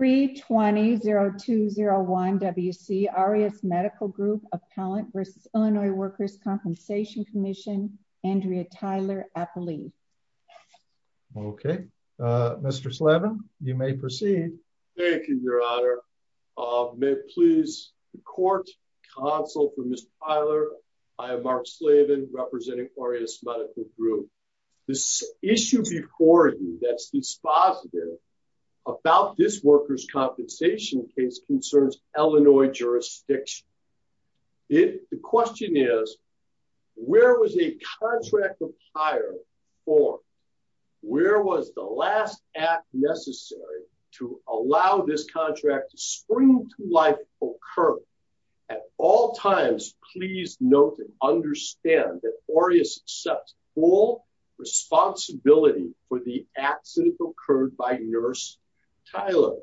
320-201-WC Aureus Medical Group Appellant v. Illinois Workers' Compensation Commission Andrea Tyler-Appley. Okay, Mr. Slaven, you may proceed. Thank you, Your Honor. May it please the Court, Counsel for Mr. Tyler, I am Mark Slaven representing Aureus Medical Group. This issue before you that's dispositive about this workers' compensation case concerns Illinois jurisdiction. The question is, where was a contract of hire formed? Where was the last act necessary to allow this contract to spring to life, occur? At all times, please note and responsibility for the accident occurred by Nurse Tyler.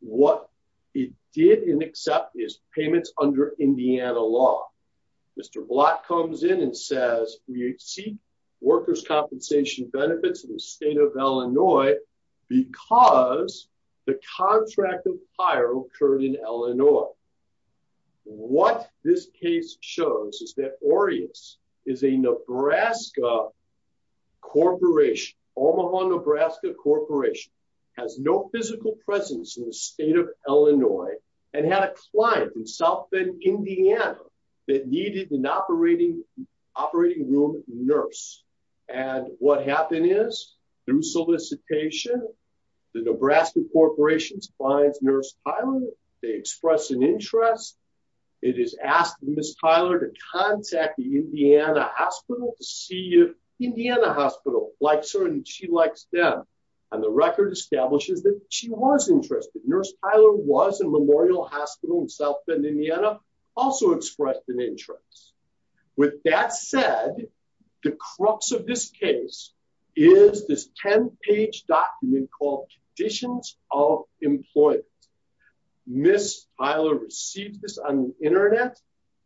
What it did and accept is payments under Indiana law. Mr. Blatt comes in and says we seek workers' compensation benefits in the state of Illinois because the contract of hire occurred in Illinois. What this case shows is that Aureus is a Nebraska corporation, Omaha, Nebraska corporation, has no physical presence in the state of Illinois and had a client in South Bend, Indiana that needed an operating room nurse. And what happened is, through solicitation, the Nebraska corporation finds Nurse Tyler, they express an interest, it is asked Miss Tyler to contact the Indiana hospital to see if Indiana hospital likes her and she likes them. And the record establishes that she was interested. Nurse Tyler was in Memorial Hospital in South Bend, Indiana, also expressed an interest. With that said, the crux of this case is this 10-page document called Conditions of Employment. Miss Tyler received this on the internet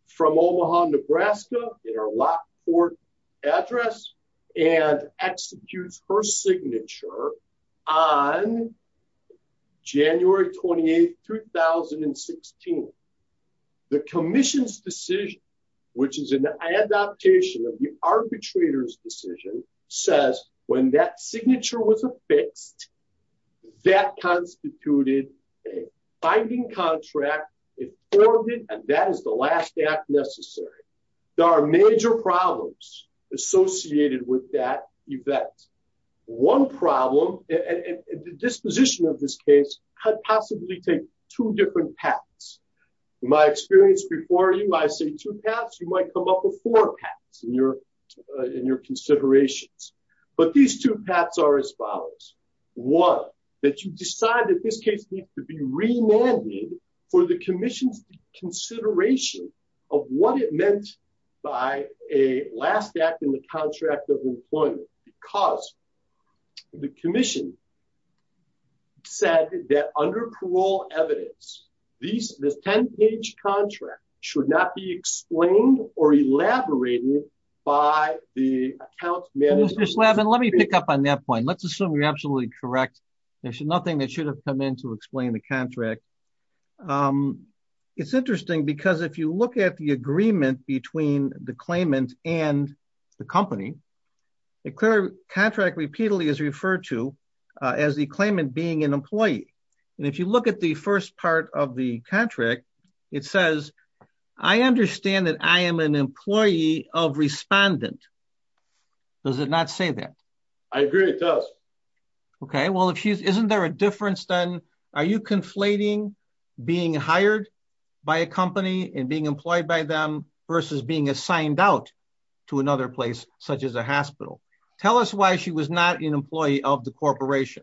from Omaha, Nebraska at her Lockport address and executes her signature on January 28, 2016. The commission's decision, which is an adaptation of the arbitrator's decision, says when that signature was affixed, that constituted a binding contract, it formed it, and that is the last act necessary. There are major problems associated with that event. One problem, and the disposition of this case could possibly take two different paths. In my experience before you, when I say two paths, you might come up with four in your considerations. But these two paths are as follows. One, that you decide that this case needs to be remanded for the commission's consideration of what it meant by a last act in the contract of employment because the commission said that under parole evidence, this 10-page contract should not be explained or elaborated by the account manager. Mr. Slavin, let me pick up on that point. Let's assume you're absolutely correct. There's nothing that should have come in to explain the contract. It's interesting because if you look at the agreement between the claimant and the company, the contract repeatedly is referred to as the claimant being an employee. And if you look at the first part of the contract, it says, I understand that I am an employee of respondent. Does it not say that? I agree it does. Okay. Well, isn't there a difference then? Are you conflating being hired by a company and being employed by them versus being assigned out to another place such as a hospital? Tell us why was she not an employee of the corporation?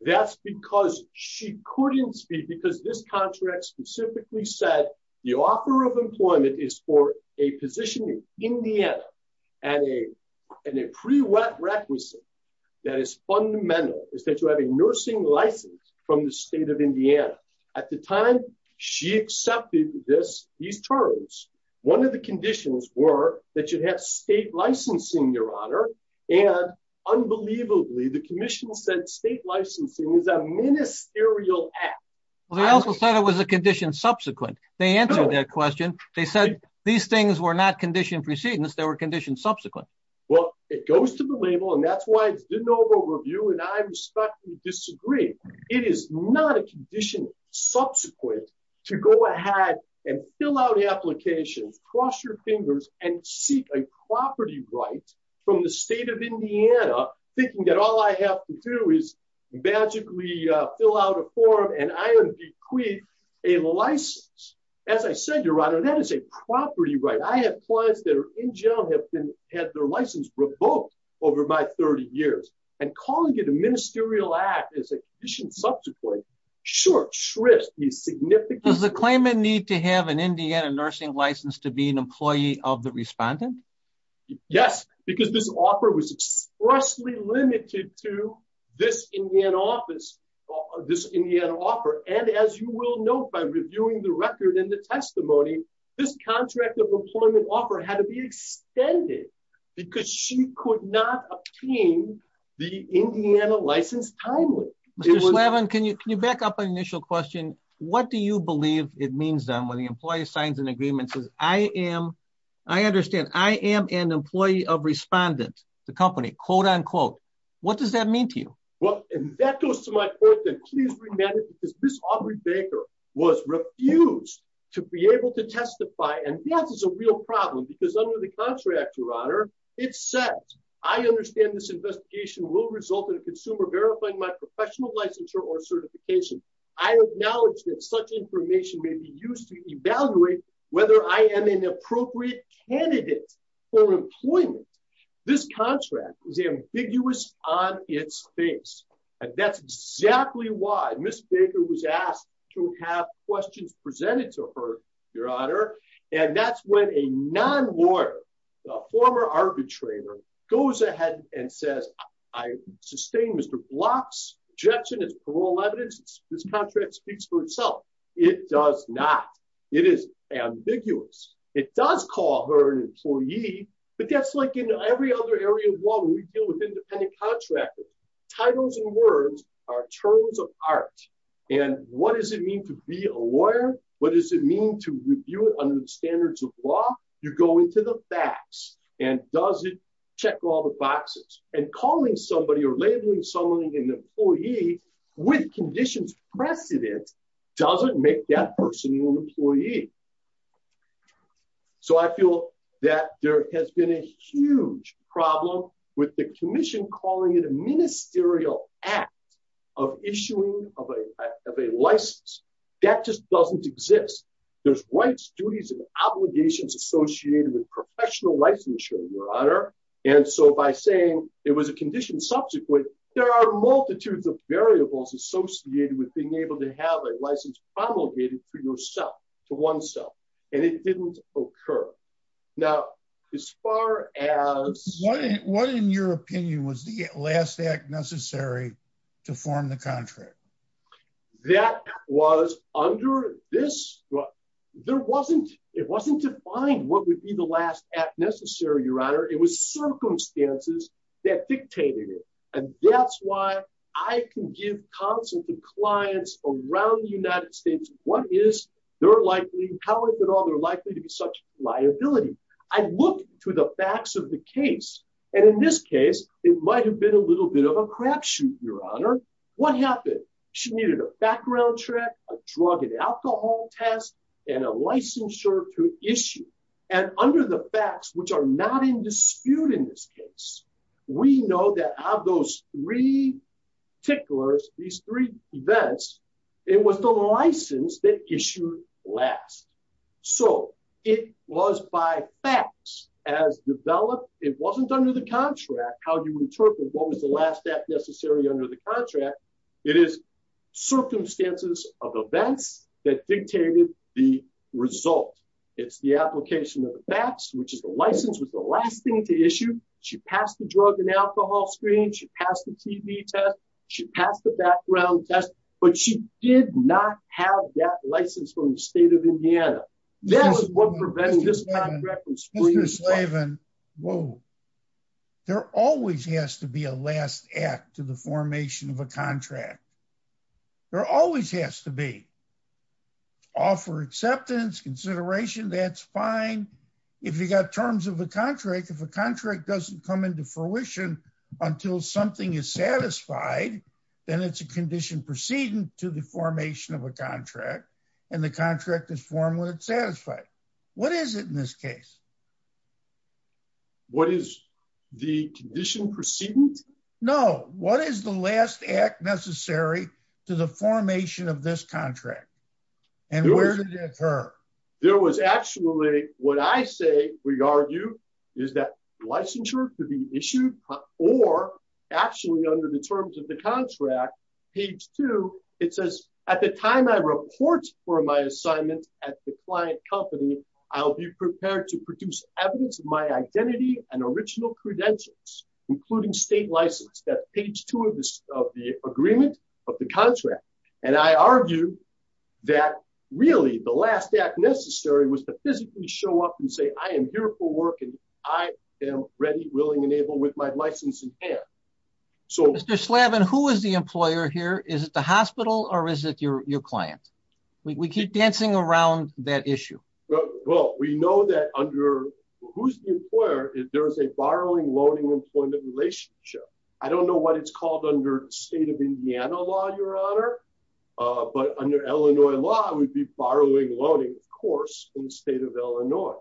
That's because she couldn't speak because this contract specifically said the offer of employment is for a position in Indiana and a pre-wet requisite that is fundamental is that you have a nursing license from the state of Indiana. At the time she accepted these terms, one of the conditions were that you'd have state licensing, your honor. And unbelievably the commission said state licensing is a ministerial act. Well, they also said it was a condition subsequent. They answered that question. They said these things were not conditioned precedence. They were conditioned subsequent. Well, it goes to the label and that's why it's didn't over review. And I respectfully disagree. It is not a condition subsequent to go ahead and fill out the applications, cross your fingers and seek a property right from the state of Indiana thinking that all I have to do is magically fill out a form and I am bequeathed a license. As I said, your honor, that is a property right. I have clients that are in jail have been had their license revoked over my 30 years and calling it a ministerial act is a condition subsequently short shrift is significant. Does the claimant need to have an Indiana nursing license to be an employee of the respondent? Yes, because this offer was expressly limited to this office, this offer. And as you will know, by reviewing the record and the testimony, this contract of employment offer had to be extended because she could not obtain the Indiana license timely. And can you can you back up an initial question? What do you believe it means that when the employee signs an agreement says I am, I understand I am an employee of respondent, the company, quote unquote, what does that mean to you? Well, that goes to my point that is this Aubrey Baker was refused to be able to testify. And yes, it's a real problem. Because under the contract, your honor, it says, I understand this investigation will result in a consumer verifying my professional licensure or certification. I acknowledge that such information may be used to evaluate whether I am an appropriate candidate for employment. This contract is ambiguous on its face. And that's exactly why Miss Baker was asked to have questions presented to her, your honor. And that's when a non lawyer, former arbitrator goes ahead and says, I sustain Mr. Block's objection is parole evidence. This contract speaks for itself. It does not. It is ambiguous. It does call her an employee. But that's like in every other area of law when we deal with independent contractors, titles and words are terms of art. And what does it mean to be a lawyer? What does it mean to under the standards of law? You go into the facts and does it check all the boxes and calling somebody or labeling someone an employee with conditions precedent doesn't make that person your employee. So I feel that there has been a huge problem with the commission calling it a obligations associated with professional licensure, your honor. And so by saying it was a condition subsequent, there are multitudes of variables associated with being able to have a license promulgated for yourself to oneself. And it didn't occur. Now, as far as what in your opinion was the last act necessary to form the contract that was under this? There wasn't it wasn't defined what would be the last act necessary, your honor. It was circumstances that dictated it. And that's why I can give counsel to clients around the United States. What is their likely? How is it all? They're likely to be such liability. I look to the facts of the case. And in this case, it might have been a little bit of a crapshoot, your honor. What happened? She needed a background check, a drug and alcohol test, and a licensure to issue. And under the facts, which are not in dispute in this case, we know that those three ticklers, these three events, it was the license that issue last. So it was by facts as developed. It wasn't under the contract, how you interpret what was the last act necessary under the contract. It is circumstances of events that dictated the result. It's the application of the facts, which is the license was the last thing to issue. She passed the drug and alcohol screen, she passed the TB test, she passed the background test, but she did not have that license from the state of Indiana. That is what prevents this last act to the formation of a contract. There always has to be offer acceptance, consideration, that's fine. If you got terms of the contract, if a contract doesn't come into fruition until something is satisfied, then it's a condition proceeding to the formation of a contract. And the contract is formed when it's satisfied. What is it in this case? What is the condition proceeding? No, what is the last act necessary to the formation of this contract? And where did it occur? There was actually what I say we argue is that licensure to be issued or actually under the terms of the contract, page two, it says at the time I report for my assignment at the client company, I'll be prepared to produce evidence of my identity and original credentials, including state license that page two of this of the agreement of the contract. And I argue that really the last act necessary was to physically show up and say I am here for work and I am ready, willing and able with my license in hand. So Mr. Slavin, who is the employer here? Is it the hospital or is it your client? We keep dancing around that issue. Well, we know that under who's the employer is there is a borrowing, loaning employment relationship. I don't know what it's called under state of Indiana law, your honor. But under Illinois law, I would be borrowing, loaning, of course, in the state of Illinois.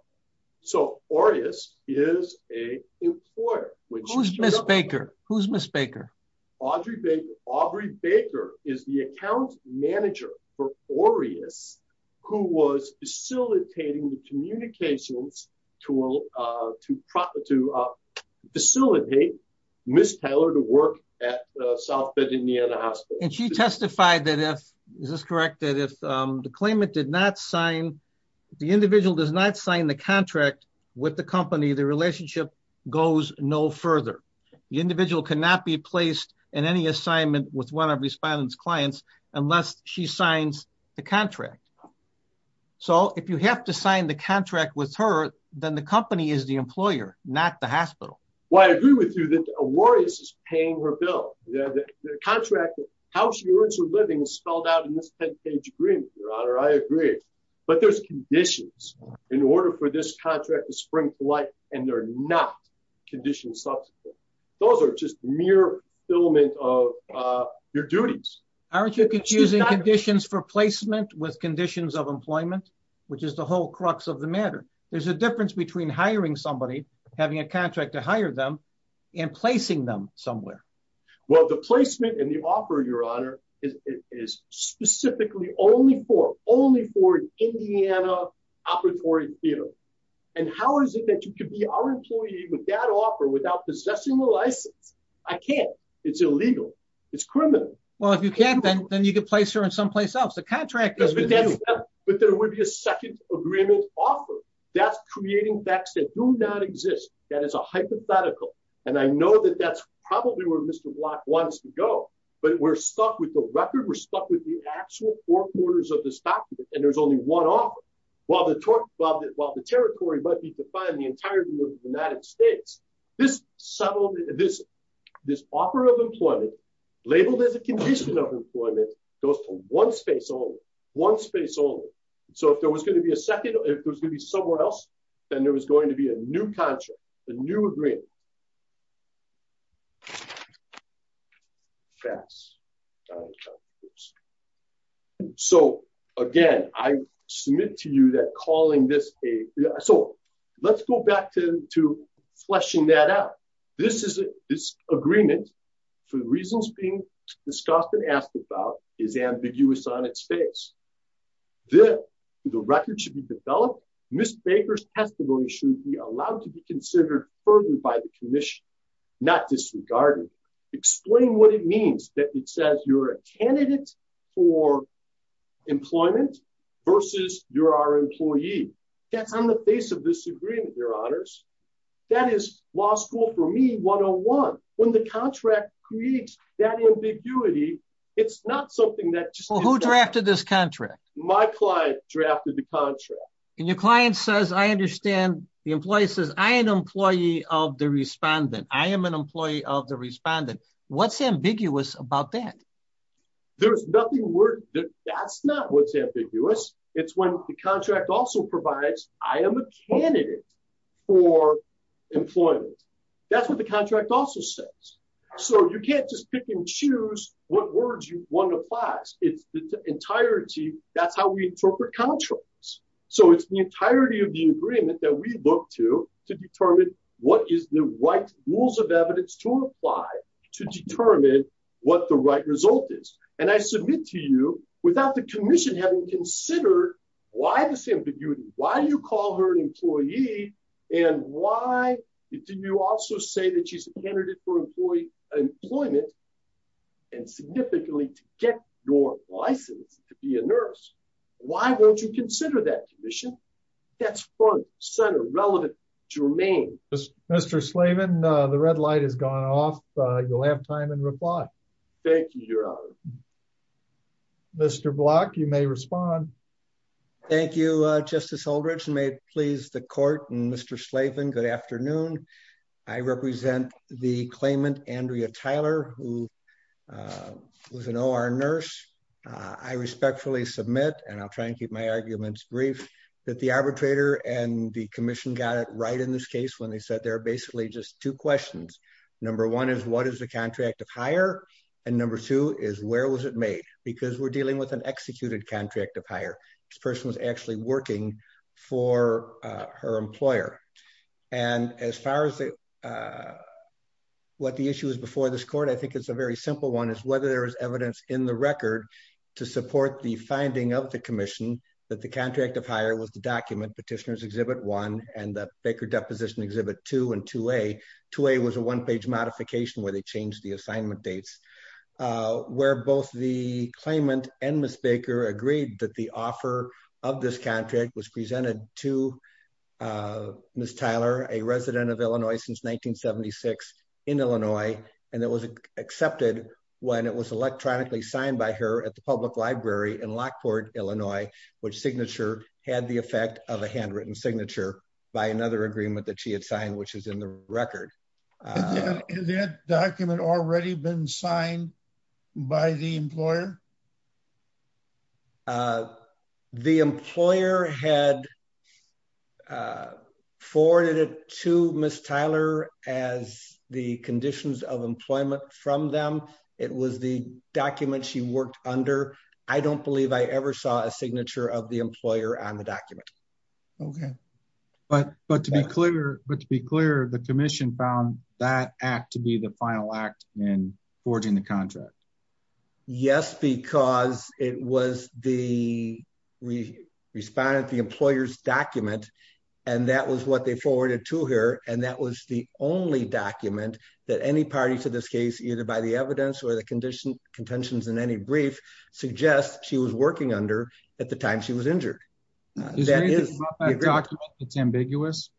So Aureus is a employer. Who's Miss Baker? Who's Miss Baker? Audrey Baker. Aubrey Baker is the account manager for Aureus who was facilitating the communications to facilitate Miss Taylor to work at South Bend Indiana Hospital. And she testified that if, is this correct, that if the claimant did not sign, the individual does sign the contract with the company, the relationship goes no further. The individual cannot be placed in any assignment with one of respondents clients unless she signs the contract. So if you have to sign the contract with her, then the company is the employer, not the hospital. Well, I agree with you that Aureus is paying her bill. The contract, how she earns her living is agreed. But there's conditions in order for this contract to spring to life. And they're not conditioned substance. Those are just mere filaments of your duties. Aren't you using conditions for placement with conditions of employment, which is the whole crux of the matter. There's a difference between hiring somebody, having a contract to hire them and placing them somewhere. Well, the placement and the offer, your honor, is specifically only for Indiana Operatory Theater. And how is it that you could be our employee with that offer without possessing the license? I can't. It's illegal. It's criminal. Well, if you can't, then you could place her in someplace else. The contract goes with you. But there would be a second agreement offer. That's creating facts that do not exist. That is a hypothetical. And I know that that's probably where Mr. Block wants to go. But we're stuck with the record. We're stuck with the actual four quarters of this document. And there's only one offer. While the territory might be defined the entirety of the United States, this offer of employment, labeled as a condition of employment, goes to one space only. One space only. So if there was going to be a second, if there's going to be somewhere else, then there was going to be a new contract, a new agreement. So, again, I submit to you that calling this a... So let's go back to fleshing that out. This agreement, for the reasons being discussed and asked about, is ambiguous on its face. The record should be developed. Ms. Baker's testimony should be allowed to be considered further by the commission, not disregarded. Explain what it means that it says you're a candidate for employment versus you're our employee. That's on the face of this agreement, your honors. That is law school, for me, 101. When the contract creates that ambiguity, it's not something that just... Well, who drafted this contract? My client drafted the contract. And your client says, I understand, the employee says, I am an employee of the respondent. I am an employee of the respondent. What's ambiguous about that? There's nothing... That's not what's ambiguous. It's when the contract also provides, I am a candidate for employment. That's what the contract also says. So you can't just pick and choose what words one applies. It's the entirety, that's how we interpret contracts. So it's the entirety of the agreement that we look to, to determine what is the right rules of evidence to apply, to determine what the right result is. And I submit to you, without the commission having considered why this ambiguity, why you call her an employee, and why do you also say that she's a candidate for employment, and significantly to get your license to be a nurse? Why won't you consider that commission? That's front and center, relevant, germane. Mr. Slaven, the red light has gone off. You'll have time and reply. Thank you, Your Honor. Mr. Block, you may respond. Thank you, Justice Aldrich. May it please the court and Mr. Slaven, good afternoon. I represent the claimant, Andrea Tyler, who was an OR nurse. I respectfully submit, and I'll try and keep my arguments brief, that the arbitrator and the commission got it right in this case when they said there are basically just two questions. Number one is, what is the contract of hire? And number two is, where was it made? Because we're dealing with an executed contract of hire. This person was actually working for her employer. And as far as what the issue is before this court, I think it's a very simple one, is whether there is evidence in the record to support the finding of the commission that the contract of hire was the document, Petitioner's Exhibit 1, and the Baker Deposition Exhibit 2 and 2A. 2A was a one-page modification where they changed the assignment dates, where both the claimant and Ms. Baker agreed that the offer of this contract was presented to Ms. Tyler, a resident of Illinois since 1976 in Illinois, and it was accepted when it was electronically signed by her at the public library in Lockport, Illinois, which signature had the effect of a handwritten signature by another agreement that she had signed, which is in the document. And I don't believe I ever saw a signature of the employer on the document. Okay. But to be clear, the commission found that act to be the final act in forging the contract. Yes, because it was the respondent, the employer's document, and that was what they forwarded to her, and that was the only document that any party to this case, either by the evidence or the contentions in any brief, suggests she was working under at the time she was injured. Is there anything about that document that's ambiguous?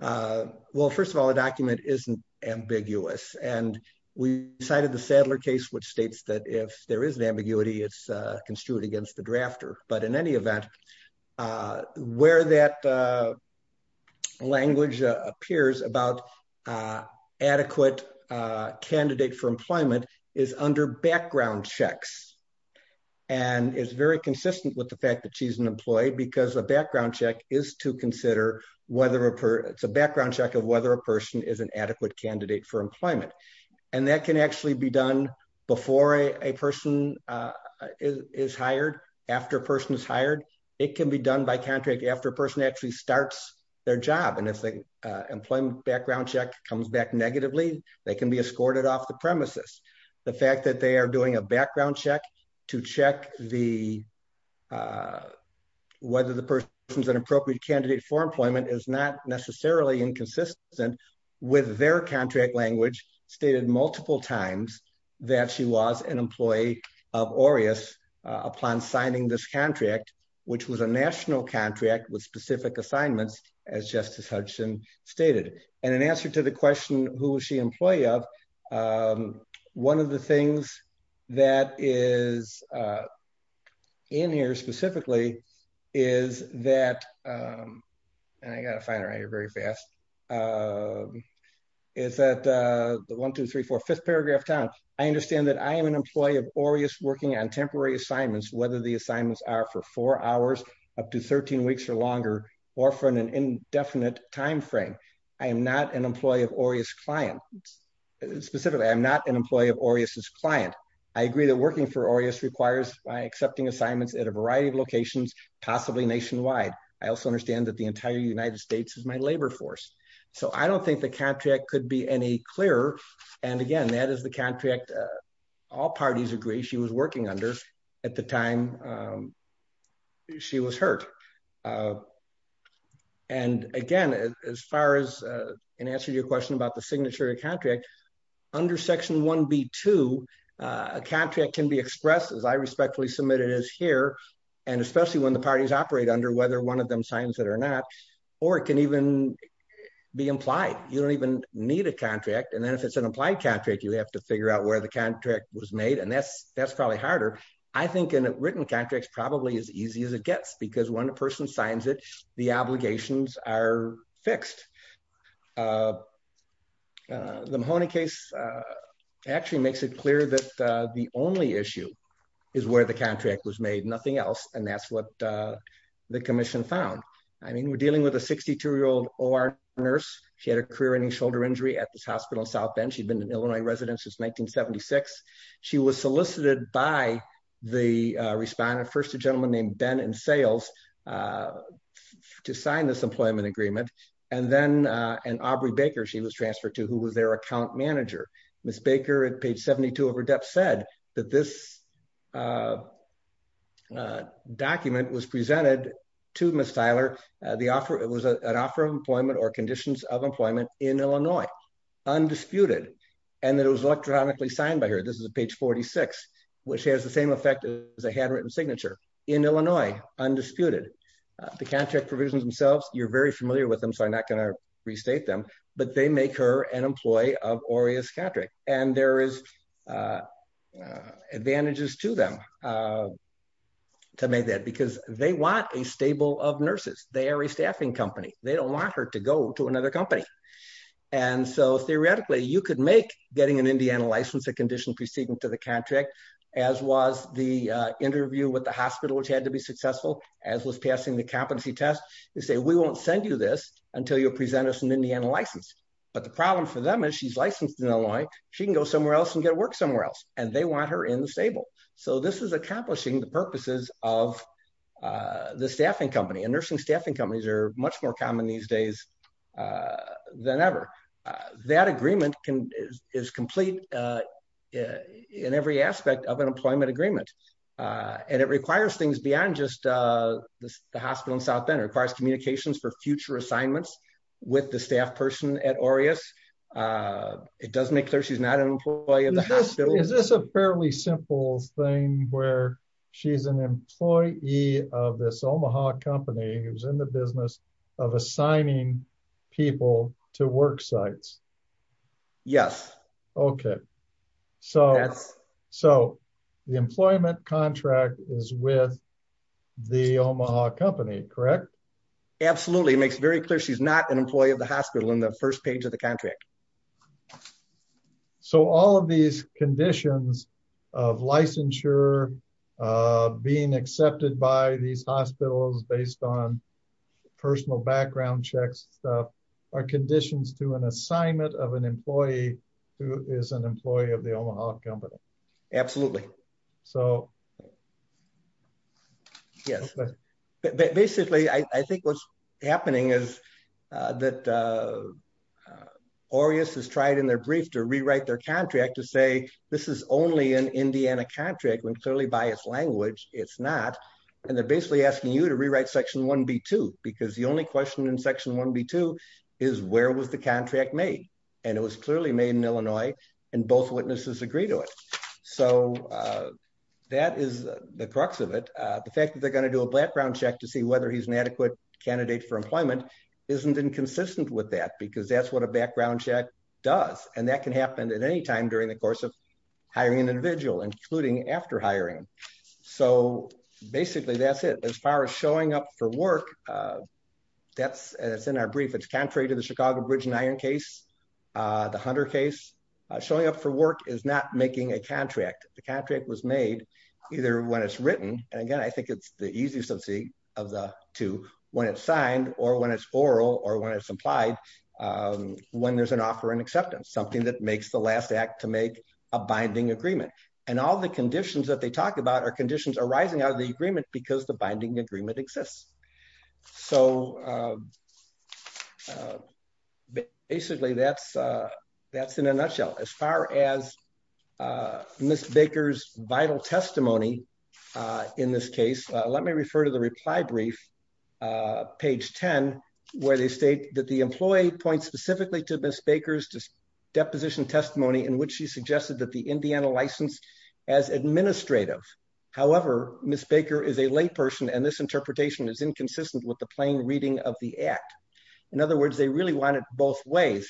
Well, first of all, the document isn't ambiguous, and we cited the Sadler case, which states that if there is an ambiguity, it's construed against the drafter. But in any event, where that language appears about adequate candidate for employment is under background checks, and it's very consistent with the fact that she's an employee, because a background check is to consider whether a person, it's a background check of whether a person is an adequate candidate for employment. And that can actually be done before a person is hired, after a person is hired. It can be done by contract after a person actually starts their job. And if the employment background check comes back negatively, they can be escorted off the premises. The fact that they are doing a background check to check whether the person's an appropriate candidate for employment is not necessarily inconsistent with their contract language stated multiple times that she was an employee of Aureus upon signing this contract, which was a national contract with specific assignments, as Justice Hudson stated. And in answer to the question, who was she employee of? One of the things that is in here specifically is that, and I got to find it right here very fast, is that the 1, 2, 3, 4, 5th paragraph, Tom, I understand that I am an employee of Aureus working on temporary assignments, whether the assignments are for four hours, up to 13 weeks or longer, or for an indefinite time frame. I am not an employee of Aureus' client. Specifically, I'm not an employee of Aureus' client. I agree that working for Aureus requires accepting assignments at a variety of locations, possibly nationwide. I also understand that the entire United States is my labor force. So I don't think the contract could be any clearer. And again, that is the contract all parties agree she was working under at the time she was hurt. And again, as far as answering your question about the signature of contract, under section 1B2, a contract can be expressed as I respectfully submit it as here, and especially when the parties operate under whether one of them signs it or not, or it can even be implied. You don't even need a contract. And then if it's an implied contract, you have to figure out where the contract was made. And that's probably harder. I think in written contracts, probably as easy as it gets, because when a person signs it, the obligations are fixed. The Mahoney case actually makes it clear that the only issue is where the contract was made, nothing else. And that's what the commission found. I mean, we're dealing with a 62-year-old OR nurse. She had a career-ending shoulder injury at this hospital in South Bend. She'd been an Illinois resident since 1976. She was solicited by the respondent, a gentleman named Ben in sales, to sign this employment agreement. And then an Aubrey Baker she was transferred to, who was their account manager. Ms. Baker at page 72 of her debt said that this document was presented to Ms. Tyler. It was an offer of employment or conditions of employment in Illinois, undisputed, and that it was electronically signed by her. This is page 46, which has the same effect as a handwritten signature in Illinois, undisputed. The contract provisions themselves, you're very familiar with them, so I'm not going to restate them, but they make her an employee of Aureus Contract. And there is advantages to them to make that, because they want a stable of nurses. They are a staffing company. They don't want her to go to another company. And so theoretically, you could make getting an as was the interview with the hospital, which had to be successful, as was passing the competency test. They say, we won't send you this until you present us an Indiana license. But the problem for them is she's licensed in Illinois. She can go somewhere else and get work somewhere else. And they want her in the stable. So this is accomplishing the purposes of the staffing company. And nursing staffing companies are much more common these days than ever. That agreement is complete in every aspect of an employment agreement. And it requires things beyond just the hospital in South Bend. It requires communications for future assignments with the staff person at Aureus. It does make clear she's not an employee of the hospital. Is this a fairly simple thing where she's an employee of this Omaha company who's in the Yes. Okay. So that's so the employment contract is with the Omaha company, correct? Absolutely. It makes very clear she's not an employee of the hospital in the first page of the contract. So all of these conditions of licensure being accepted by these hospitals based on personal background checks are conditions to an assignment of an employee who is an employee of the Omaha company. Absolutely. So Yes. But basically, I think what's happening is that Aureus has tried in their brief to rewrite their contract to say, this is only an Indiana contract when clearly biased language, it's not. And they're basically asking you to rewrite section 1B2 because the only question in section 1B2 is where was the contract made? And it was clearly made in Illinois and both witnesses agree to it. So that is the crux of it. The fact that they're going to do a background check to see whether he's an adequate candidate for employment isn't inconsistent with that because that's what a background check does. And that can happen at any time during the course of hiring an individual, including after hiring. So basically, that's it. As far as showing up for work, it's in our brief. It's contrary to the Chicago Bridge and Iron case, the Hunter case. Showing up for work is not making a contract. The contract was made either when it's written. And again, I think it's the easiest of the two, when it's signed or when it's oral or when it's applied, when there's an offer and acceptance, something that makes the last act to make a binding agreement. And all the conditions that they talk about are conditions arising out of the agreement because the binding agreement exists. So basically, that's in a nutshell. As far as Ms. Baker's vital testimony in this case, let me refer to the reply brief, page 10, where they state that the employee points specifically to Ms. Baker's deposition testimony in which she suggested that the Indiana license as administrative. However, Ms. Baker is a layperson and this interpretation is inconsistent with the plain reading of the act. In other words, they really want it both ways.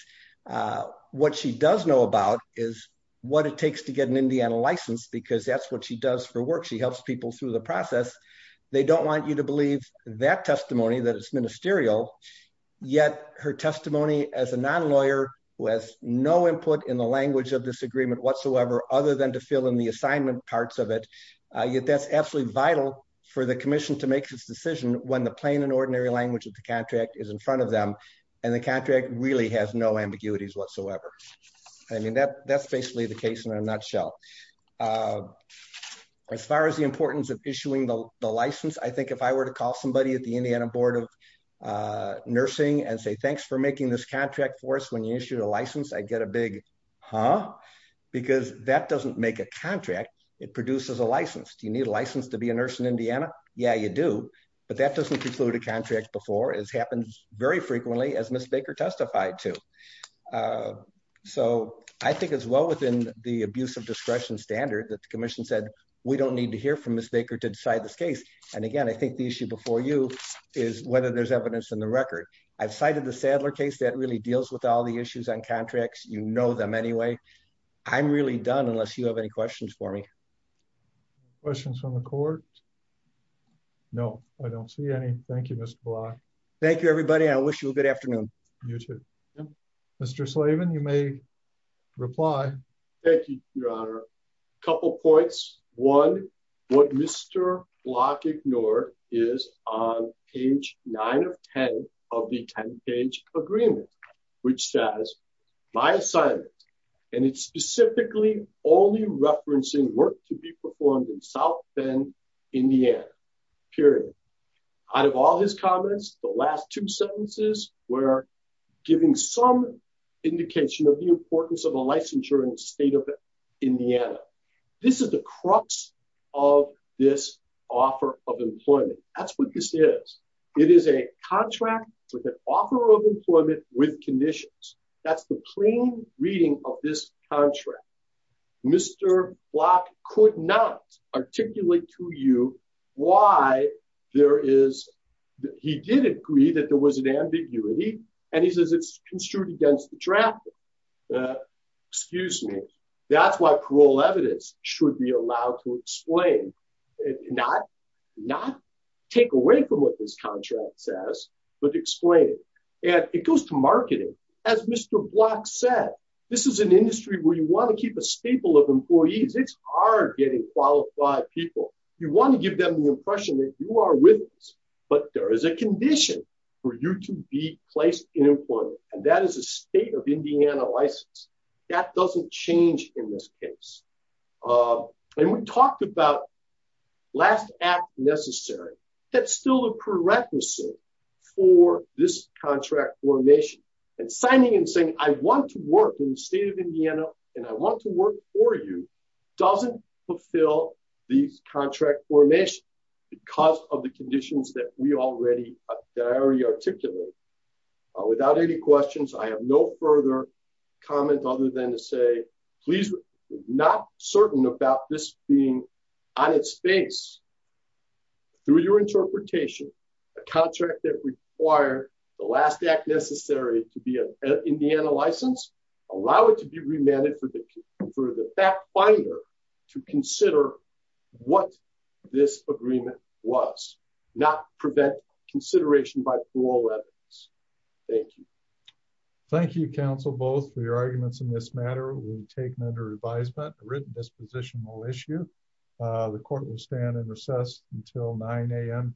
What she does know about is what it takes to get an Indiana license because that's what she does for work. She helps people through the process. They don't want you to believe that testimony, that it's ministerial. Yet her testimony as a language of this agreement whatsoever, other than to fill in the assignment parts of it, yet that's absolutely vital for the commission to make this decision when the plain and ordinary language of the contract is in front of them and the contract really has no ambiguities whatsoever. I mean, that's basically the case in a nutshell. As far as the importance of issuing the license, I think if I were to call somebody at the Indiana Board of Nursing and say, thanks for making this contract for us when you issued a license, I'd get a big, huh? Because that doesn't make a contract. It produces a license. Do you need a license to be a nurse in Indiana? Yeah, you do. But that doesn't conclude a contract before as happens very frequently as Ms. Baker testified to. So I think as well within the abuse of discretion standard that the commission said, we don't need to hear from Ms. Baker to decide this case. And again, I think the issue before you is whether there's evidence in the record. I've cited the Saddler case that really deals with all the issues on contracts. You know them anyway. I'm really done unless you have any questions for me. Questions from the court? No, I don't see any. Thank you, Mr. Block. Thank you, everybody. I wish you a good afternoon. You too. Mr. Slavin, you may reply. Thank you, Your Honor. A couple points. One, what Mr. Block ignored is on page nine of 10 of the 10 page agreement, which says, my assignment, and it's specifically only referencing work to be performed in South Bend, Indiana, period. Out of all his comments, the last two sentences were giving some indication of the importance of a licensure in the state of Indiana. This is the crux of this offer of employment. That's what this is. It is a contract with an offer of employment with conditions. That's the plain reading of this contract. Mr. Block could not articulate to you why there is, he did agree that there was an ambiguity, and he says it's construed against traffic. Excuse me. That's why parole evidence should be allowed to explain, not take away from what this contract says, but explain it. It goes to marketing. As Mr. Block said, this is an industry where you want to keep a staple of employees. It's hard getting qualified people. You want to give them the impression that you are with us, but there is a condition for you to be placed in employment, and that is a state of Indiana license. That doesn't change in this case. We talked about last act necessary. That's still a prerequisite for this contract formation, and signing and saying, I want to work in the state of Indiana, and I want to work for you, doesn't fulfill these contract formations because of the conditions that we already articulated. Without any questions, I have no further comment other than to say, please, we're not certain about this being on its face. Through your interpretation, a contract that required the last act necessary to be an Indiana license, allow it to be remanded for the back finder to consider what this agreement was, not prevent consideration by plural evidence. Thank you. Thank you, counsel, both for your arguments in this matter. We take them under advisement. The written disposition will issue. The court will stand in recess until 9am.